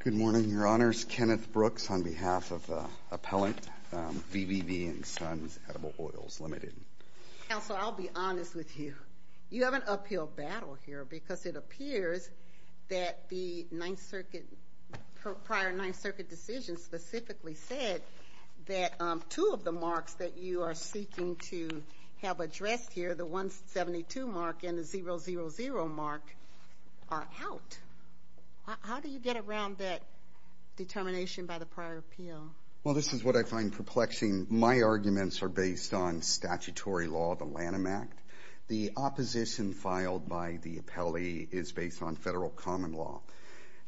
Good morning, Your Honors. Kenneth Brooks on behalf of Appellant V.V.V. & Sons Edible Oils Limited. Counsel, I'll be honest with you. You have an uphill battle here because it appears that the Ninth Circuit, prior Ninth Circuit decision specifically said that two of the marks that you are seeking to have addressed here, the that determination by the prior appeal? Well, this is what I find perplexing. My arguments are based on statutory law, the Lanham Act. The opposition filed by the appellee is based on federal common law.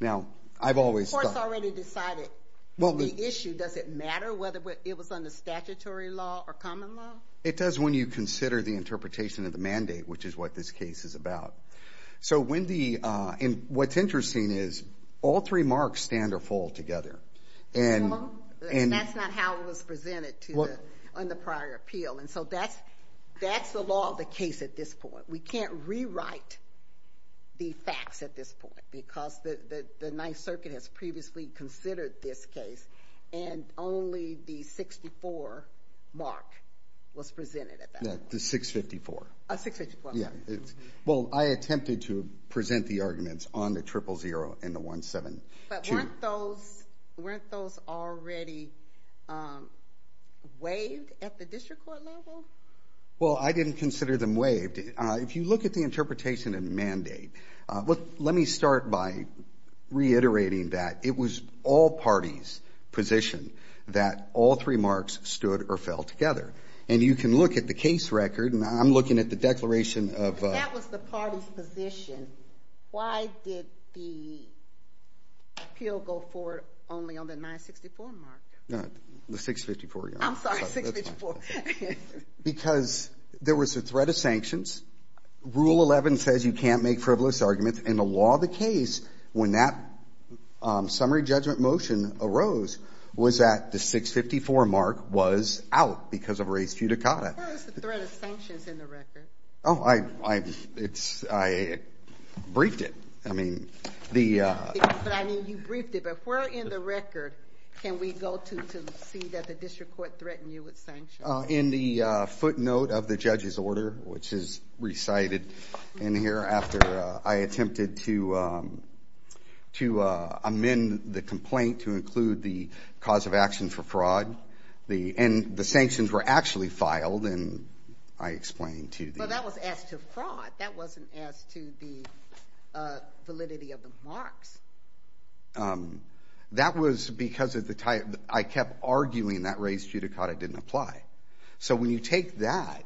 Now, I've always... The court's already decided the issue. Does it matter whether it was under statutory law or common law? It does when you consider the interpretation of the mandate, which is what this case is all three marks stand or fall together. And that's not how it was presented on the prior appeal. And so that's the law of the case at this point. We can't rewrite the facts at this point because the Ninth Circuit has previously considered this case and only the 64 mark was presented at that point. The 654. 654. Well, I attempted to present the arguments on the 000 and the 172. But weren't those already waived at the district court level? Well, I didn't consider them waived. If you look at the interpretation of the mandate, let me start by reiterating that it was all parties' position that all three marks stood or fell together. And you can look at the case record, and I'm looking at the declaration of... That was the party's position. Why did the appeal go forward only on the 964 mark? The 654, yes. I'm sorry, 654. Because there was a threat of sanctions. Rule 11 says you can't make frivolous arguments. And the law of the case, when that summary judgment motion arose, was that the 654 mark was out because of res judicata. Where is the threat of sanctions in the record? Oh, I briefed it. I mean, the... But I mean, you briefed it. But where in the record can we go to see that the district court threatened you with sanctions? In the footnote of the judge's order, which is recited in here after I attempted to amend the complaint to include the cause of action for fraud, and the sanctions were actually filed, and I explained to the... But that was as to fraud. That wasn't as to the validity of the marks. That was because of the type... I kept arguing that res judicata didn't apply. So when you take that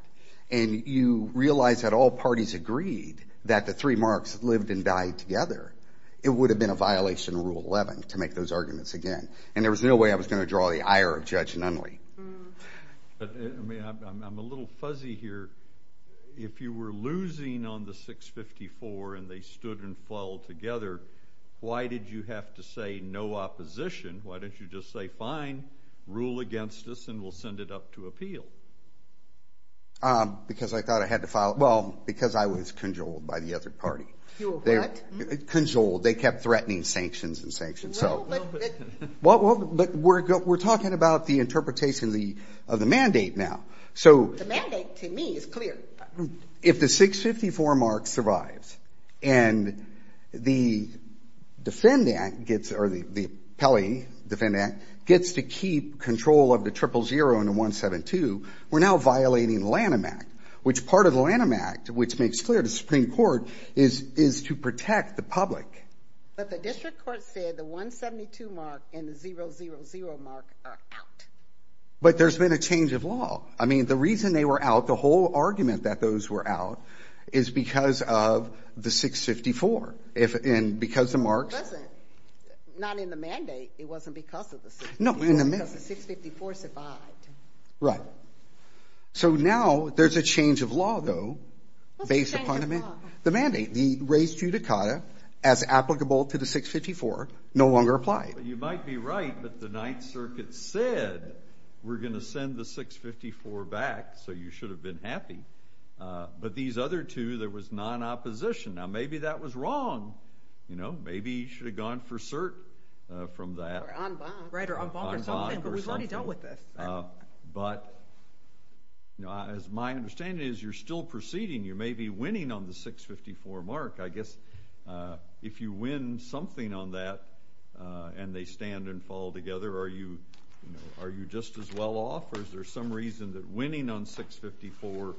and you realize that all parties agreed that the three marks lived and died together, it would have been a violation of Rule 11 to make those arguments again. And there was no way I was going to draw the ire of Judge Nunley. But I mean, I'm a little fuzzy here. If you were losing on the 654 and they stood and fell together, why did you have to say no opposition? Why didn't you just say, fine, rule against us and we'll send it up to appeal? Because I thought I had to file... Well, because I was condoled by the other party. You were what? Condoled. They kept threatening sanctions and sanctions. Well, but... Well, but we're talking about the interpretation of the mandate now. So... The mandate, to me, is clear. If the 654 mark survives and the defendant gets... or the appellee, defendant, gets to keep control of the triple zero and the 172, we're now violating the Lanham Act, which makes clear to the Supreme Court is to protect the public. But the district court said the 172 mark and the 000 mark are out. But there's been a change of law. I mean, the reason they were out, the whole argument that those were out, is because of the 654. And because the marks... It wasn't. Not in the mandate. It wasn't because of the 654, it was because the 654 survived. Right. So now there's a change of law, though, based upon the mandate. What's the change of law? The mandate. The res judicata, as applicable to the 654, no longer applied. You might be right, but the Ninth Circuit said, we're going to send the 654 back, so you should have been happy. But these other two, there was non-opposition. Now, maybe that was wrong. You know, maybe you should have gone for cert from that. Or en banc. Right, or en banc or something. En banc or something. I'm already dealt with this. But my understanding is, you're still proceeding. You may be winning on the 654 mark. I guess if you win something on that, and they stand and fall together, are you just as well off? Or is there some reason that winning on 654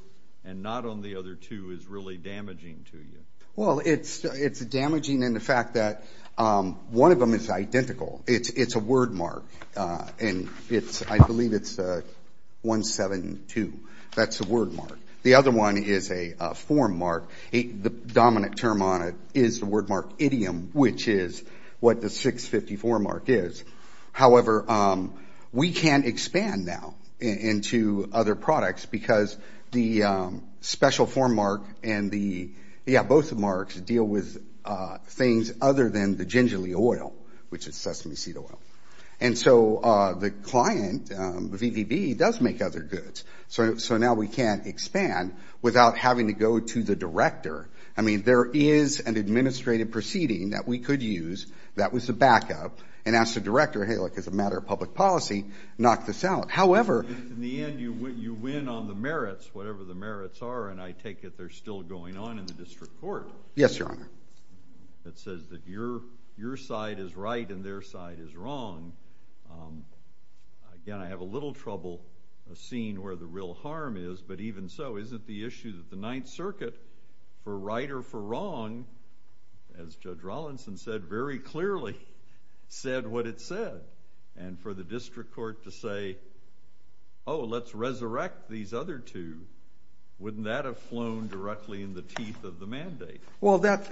and not on the other two is really damaging to you? Well, it's damaging in the fact that one of them is identical. It's a word mark. And it's I believe it's 172. That's a word mark. The other one is a form mark. The dominant term on it is the word mark idiom, which is what the 654 mark is. However, we can expand now into other products because the special form mark and the, yeah, both marks deal with things other than the gingerly oil, which is sesame seed oil. And so the client, VVB, does make other goods. So now we can't expand without having to go to the director. I mean, there is an administrative proceeding that we could use that was a backup and ask the director, hey, look, as a matter of public policy, knock this out. However In the end, you win on the merits, whatever the merits are, and I take it they're still going on in the district court. Yes, Your Honor. That says that your side is right and their side is wrong. Again, I have a little trouble seeing where the real harm is, but even so, isn't the issue that the Ninth Circuit for right or for wrong, as Judge Rollinson said very clearly, said what it said. And for the district court to say, oh, let's resurrect these other two, wouldn't that have flown directly in the teeth of the mandate? Well, that,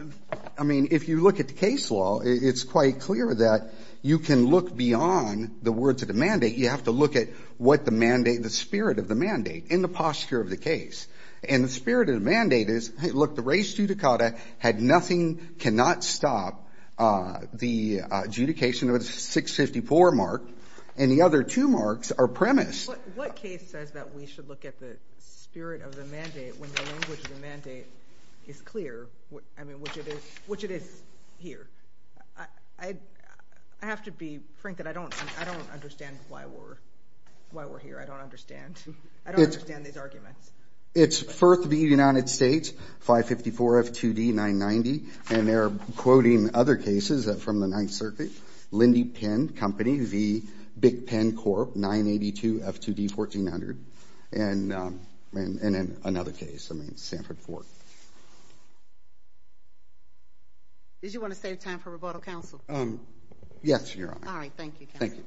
I mean, if you look at the case law, it's quite clear that you can look beyond the words of the mandate. You have to look at what the mandate, the spirit of the mandate in the posture of the case. And the spirit of the mandate is, hey, look, the res judicata had nothing, cannot stop the adjudication of the 654 mark, and the other two marks are premised. What case says that we should look at the spirit of the mandate when the language of the mandate is, I mean, which it is here? I have to be frank that I don't understand why we're here. I don't understand. I don't understand these arguments. It's Firth v. United States, 554 F2D 990, and they're quoting other cases from the Ninth Circuit, Lindy Penn Company v. Big Penn Corp. 982 F2D 1400, and another case, I mean, Sanford v. Sanford. Did you want to save time for rebuttal, counsel? Yes, Your Honor. All right. Thank you, counsel. Thank you.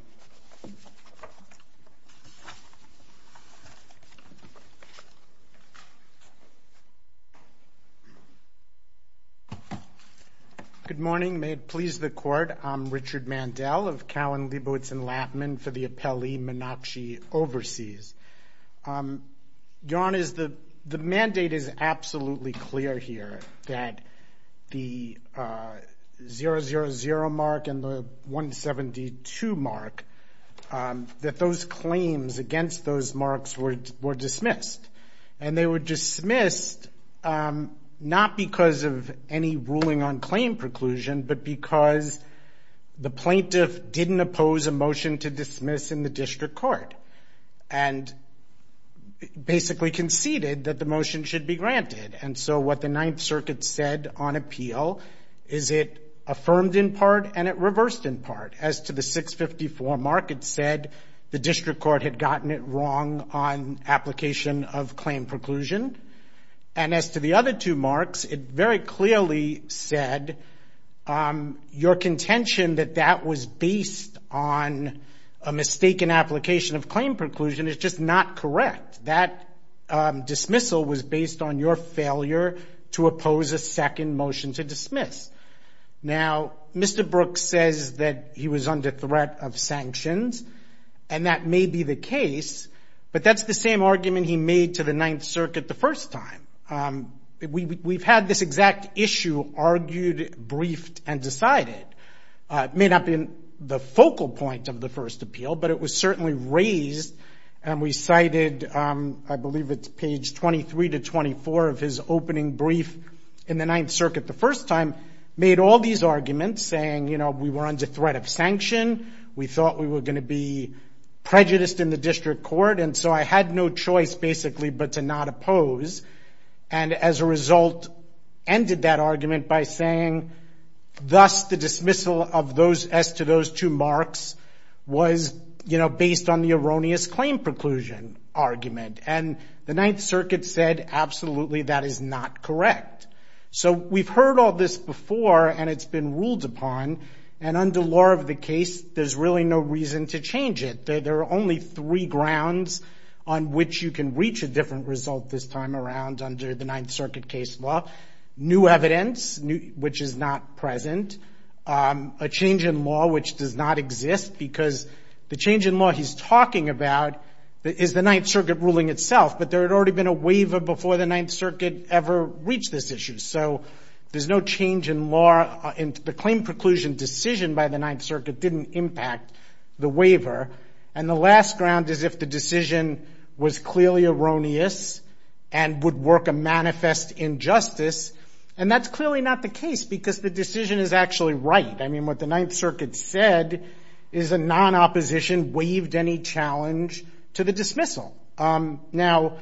Good morning. May it please the Court, I'm Richard Mandel of Cowen, Liebowitz, and Lappman for the appellee, Menakshi Overseas. Your Honor, the mandate is absolutely clear here that the 000 mark and the 172 mark, that those claims against those marks were dismissed, and they were dismissed not because of any ruling on claim preclusion, but because the claim was dismissed in the district court, and basically conceded that the motion should be granted, and so what the Ninth Circuit said on appeal is it affirmed in part and it reversed in part. As to the 654 mark, it said the district court had gotten it wrong on application of claim preclusion, and as to the other two marks, it very clearly said your contention that that was based on a mistaken application of claim preclusion is just not correct. That dismissal was based on your failure to oppose a second motion to dismiss. Now, Mr. Brooks says that he was under threat of sanctions, and that may be the case, but that's the same argument he made to the Ninth Circuit the first time. We've had this exact issue argued, briefed, and decided. It may not be the focal point of the first appeal, but it was certainly raised, and we cited, I believe it's page 23 to 24 of his opening brief in the Ninth Circuit the first time, made all these arguments saying we were under threat of sanction, we thought we were going to be prejudiced in the district court, and so I had no choice basically but to not oppose, and as a result, ended that argument by saying thus, the dismissal of those, as to those two marks was, you know, based on the erroneous claim preclusion argument, and the Ninth Circuit said absolutely that is not correct. So we've heard all this before, and it's been ruled upon, and under law of the case, there's really no reason to change it. There are only three grounds on which you can reach a different result this time around under the Ninth Circuit case law. New evidence, which is not present, a change in law which does not exist, because the change in law he's talking about is the Ninth Circuit ruling itself, but there had already been a waiver before the Ninth Circuit ever reached this issue, so there's no change in law, and the claim preclusion decision by the Ninth Circuit didn't impact the waiver, and the last ground is if the decision was clearly erroneous and would work a manifest injustice, and that's clearly not the case, because the decision is actually right. I mean, what the Ninth Circuit said is a non-opposition waived any challenge to the dismissal. Now,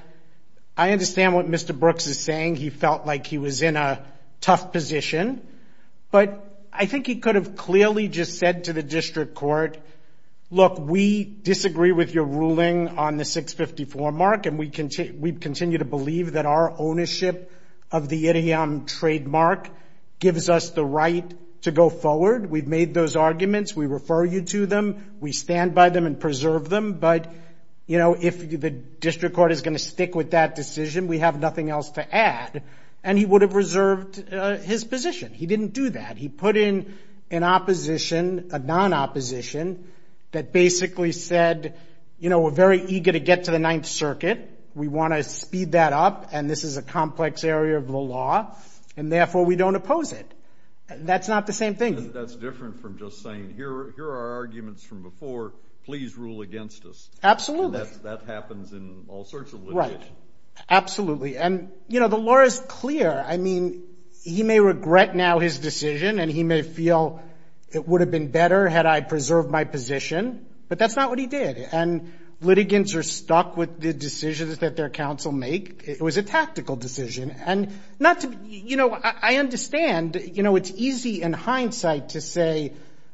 I understand what Mr. Brooks is saying. He could have clearly just said to the district court, look, we disagree with your ruling on the 654 mark, and we continue to believe that our ownership of the idiom trademark gives us the right to go forward. We've made those arguments. We refer you to them. We stand by them and preserve them, but if the district court is going to stick with that decision, we have nothing else to add, and he would have reserved his position. He didn't do that. He put in an opposition, a non-opposition that basically said, you know, we're very eager to get to the Ninth Circuit. We want to speed that up, and this is a complex area of the law, and therefore, we don't oppose it, and that's not the same thing. That's different from just saying, here are our arguments from before. Please rule against us. Absolutely. And that happens in all sorts of litigation. Absolutely, and, you know, the law is clear. I mean, he may regret now his decision, and he may feel it would have been better had I preserved my position, but that's not what he did, and litigants are stuck with the decisions that their counsel make. It was a tactical decision, and not to be, you know, I understand, you know, it's easy in hindsight to say,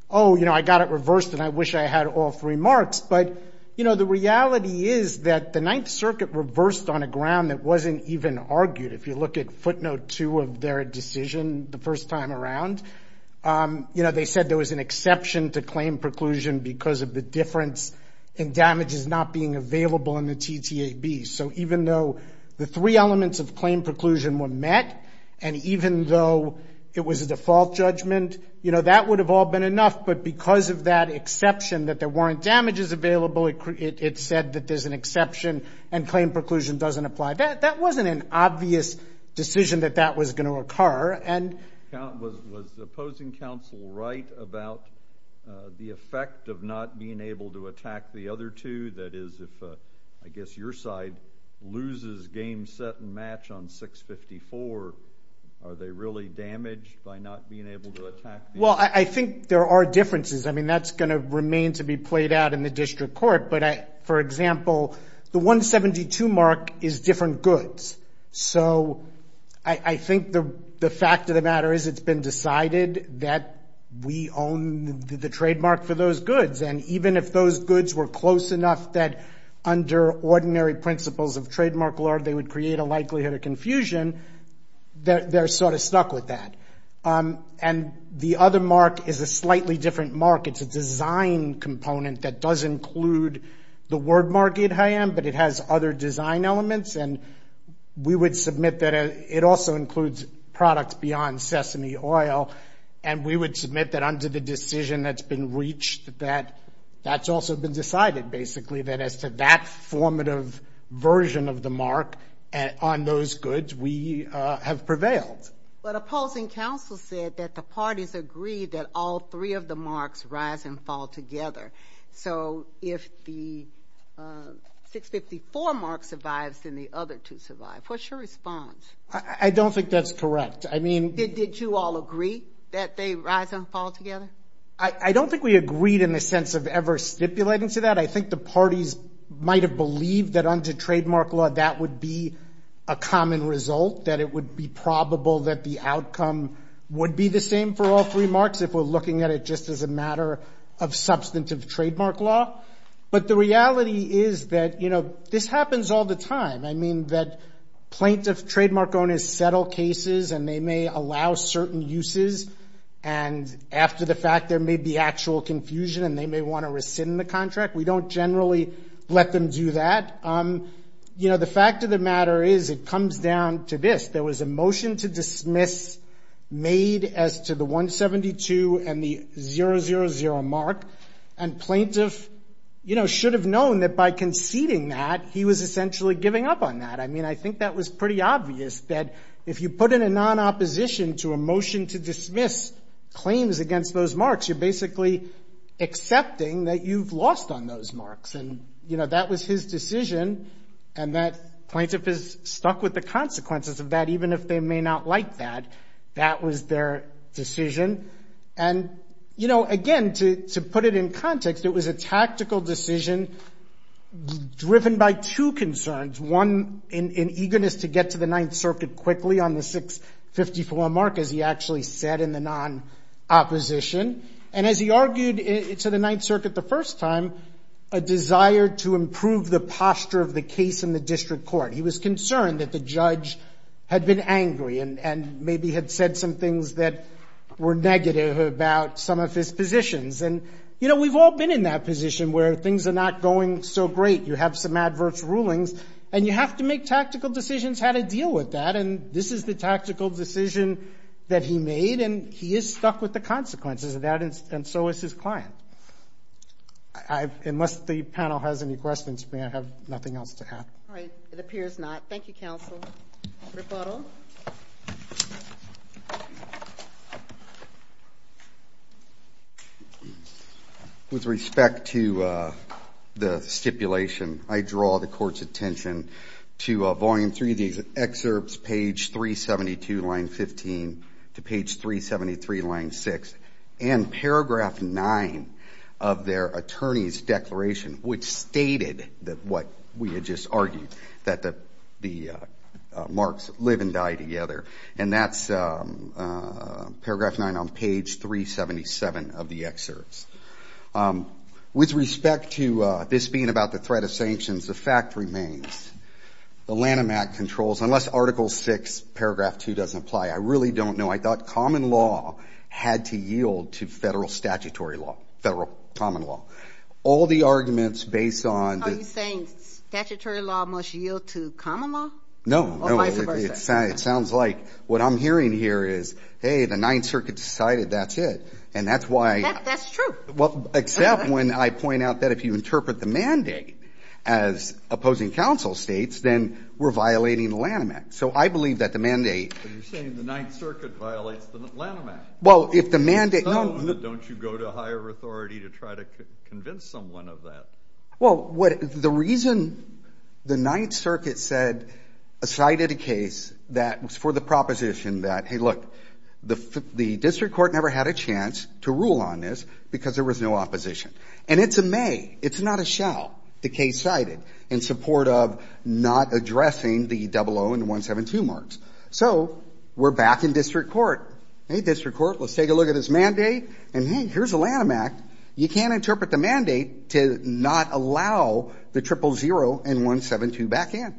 oh, you know, I got it reversed, and I wish I had all three marks, but, you know, the wasn't even argued. If you look at footnote two of their decision the first time around, you know, they said there was an exception to claim preclusion because of the difference in damages not being available in the TTAB, so even though the three elements of claim preclusion were met, and even though it was a default judgment, you know, that would have all been enough, but because of that exception that there weren't damages available, it said that there's an exception, and claim preclusion doesn't apply. That wasn't an obvious decision that that was going to occur, and Was the opposing counsel right about the effect of not being able to attack the other two? That is, if I guess your side loses game, set, and match on 654, are they really damaged by not being able to attack the other two? Well, I think there are differences. I mean, that's going to remain to be played out in the district court, but for example, the 172 mark is different goods, so I think the fact of the matter is it's been decided that we own the trademark for those goods, and even if those goods were close enough that under ordinary principles of trademark law they would create a likelihood of confusion, they're sort of stuck with that, and the other mark is a slightly different mark. It's a design component that does include the word mark, but it has other design elements, and we would submit that it also includes products beyond sesame oil, and we would submit that under the decision that's been reached that that's also been decided, basically, that as to that formative version of the mark on those goods, we have prevailed. But opposing counsel said that the parties agreed that all three of the marks rise and fall together, so if the 654 mark survives, then the other two survive. What's your response? I don't think that's correct. I mean... Did you all agree that they rise and fall together? I don't think we agreed in the sense of ever stipulating to that. I think the parties might have believed that under trademark law that would be a common result, that it would be probable that the outcome would be the same for all three marks if we're looking at it just as a matter of substantive trademark law, but the reality is that, you know, this happens all the time. I mean, that plaintiff trademark owners settle cases, and they may allow certain uses, and after the fact there may be actual confusion, and they may want to rescind the contract. We don't generally let them do that. You know, the fact of the matter is it comes down to this. There was a motion to dismiss made as to the 172 and the 000 mark, and plaintiff, you know, should have known that by conceding that he was essentially giving up on that. I mean, I think that was pretty obvious that if you put in a non-opposition to a motion to dismiss claims against those marks, you're basically accepting that you've lost on those marks, and, you know, that was his decision, and that plaintiff is stuck with the consequences of that even if they may not like that. That was their decision, and, you know, again, to put it in context, it was a tactical decision driven by two marks, as he actually said in the non-opposition, and as he argued to the Ninth Circuit the first time, a desire to improve the posture of the case in the district court. He was concerned that the judge had been angry and maybe had said some things that were negative about some of his positions, and, you know, we've all been in that position where things are not going so great. You have some adverse rulings, and you have to make tactical decisions how to deal with that, and this is the tactical decision that he made, and he is stuck with the consequences of that, and so is his client. Unless the panel has any questions for me, I have nothing else to add. All right. It appears not. Thank you, counsel. Mr. Butler? With respect to the stipulation, I draw the court's attention to Volume 3, these excerpts, page 372, line 15, to page 373, line 6, and paragraph 9 of their attorney's declaration, which stated what we had just argued, that the marks live and die together, and that's paragraph 9 on page 377 of the excerpts. With respect to this being about the threat of sanctions, the fact remains, the Lanham Act controls, unless Article 6, paragraph 2 doesn't apply, I really don't know. I thought federal common law. All the arguments based on the ---- Are you saying statutory law must yield to common law? No. Or vice versa. It sounds like what I'm hearing here is, hey, the Ninth Circuit decided that's it, and that's why ---- That's true. Except when I point out that if you interpret the mandate as opposing counsel states, then we're violating the Lanham Act. So I believe that the mandate ---- But you're saying the Ninth Circuit violates the Lanham Act. Well, if the mandate ---- Don't you go to higher authority to try to convince someone of that? Well, the reason the Ninth Circuit cited a case that was for the proposition that, hey, look, the district court never had a chance to rule on this because there was no opposition. And it's a may. It's not a shall, the case cited, in support of not addressing the 00 and 172 marks. So we're back in district court. Hey, district court, let's take a look at this mandate. And, hey, here's the Lanham Act. You can't interpret the mandate to not allow the 000 and 172 back in.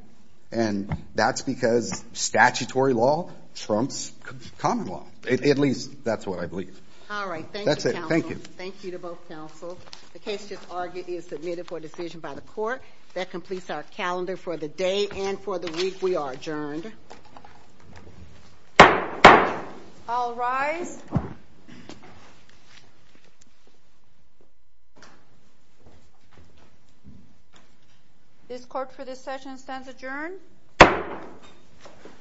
And that's because statutory law trumps common law. At least that's what I believe. All right. Thank you, counsel. That's it. Thank you. Thank you to both counsels. The case just argued is submitted for decision by the court. That completes our calendar for the day and for the week. We are adjourned. Okay. I'll rise. This court for this session stands adjourned.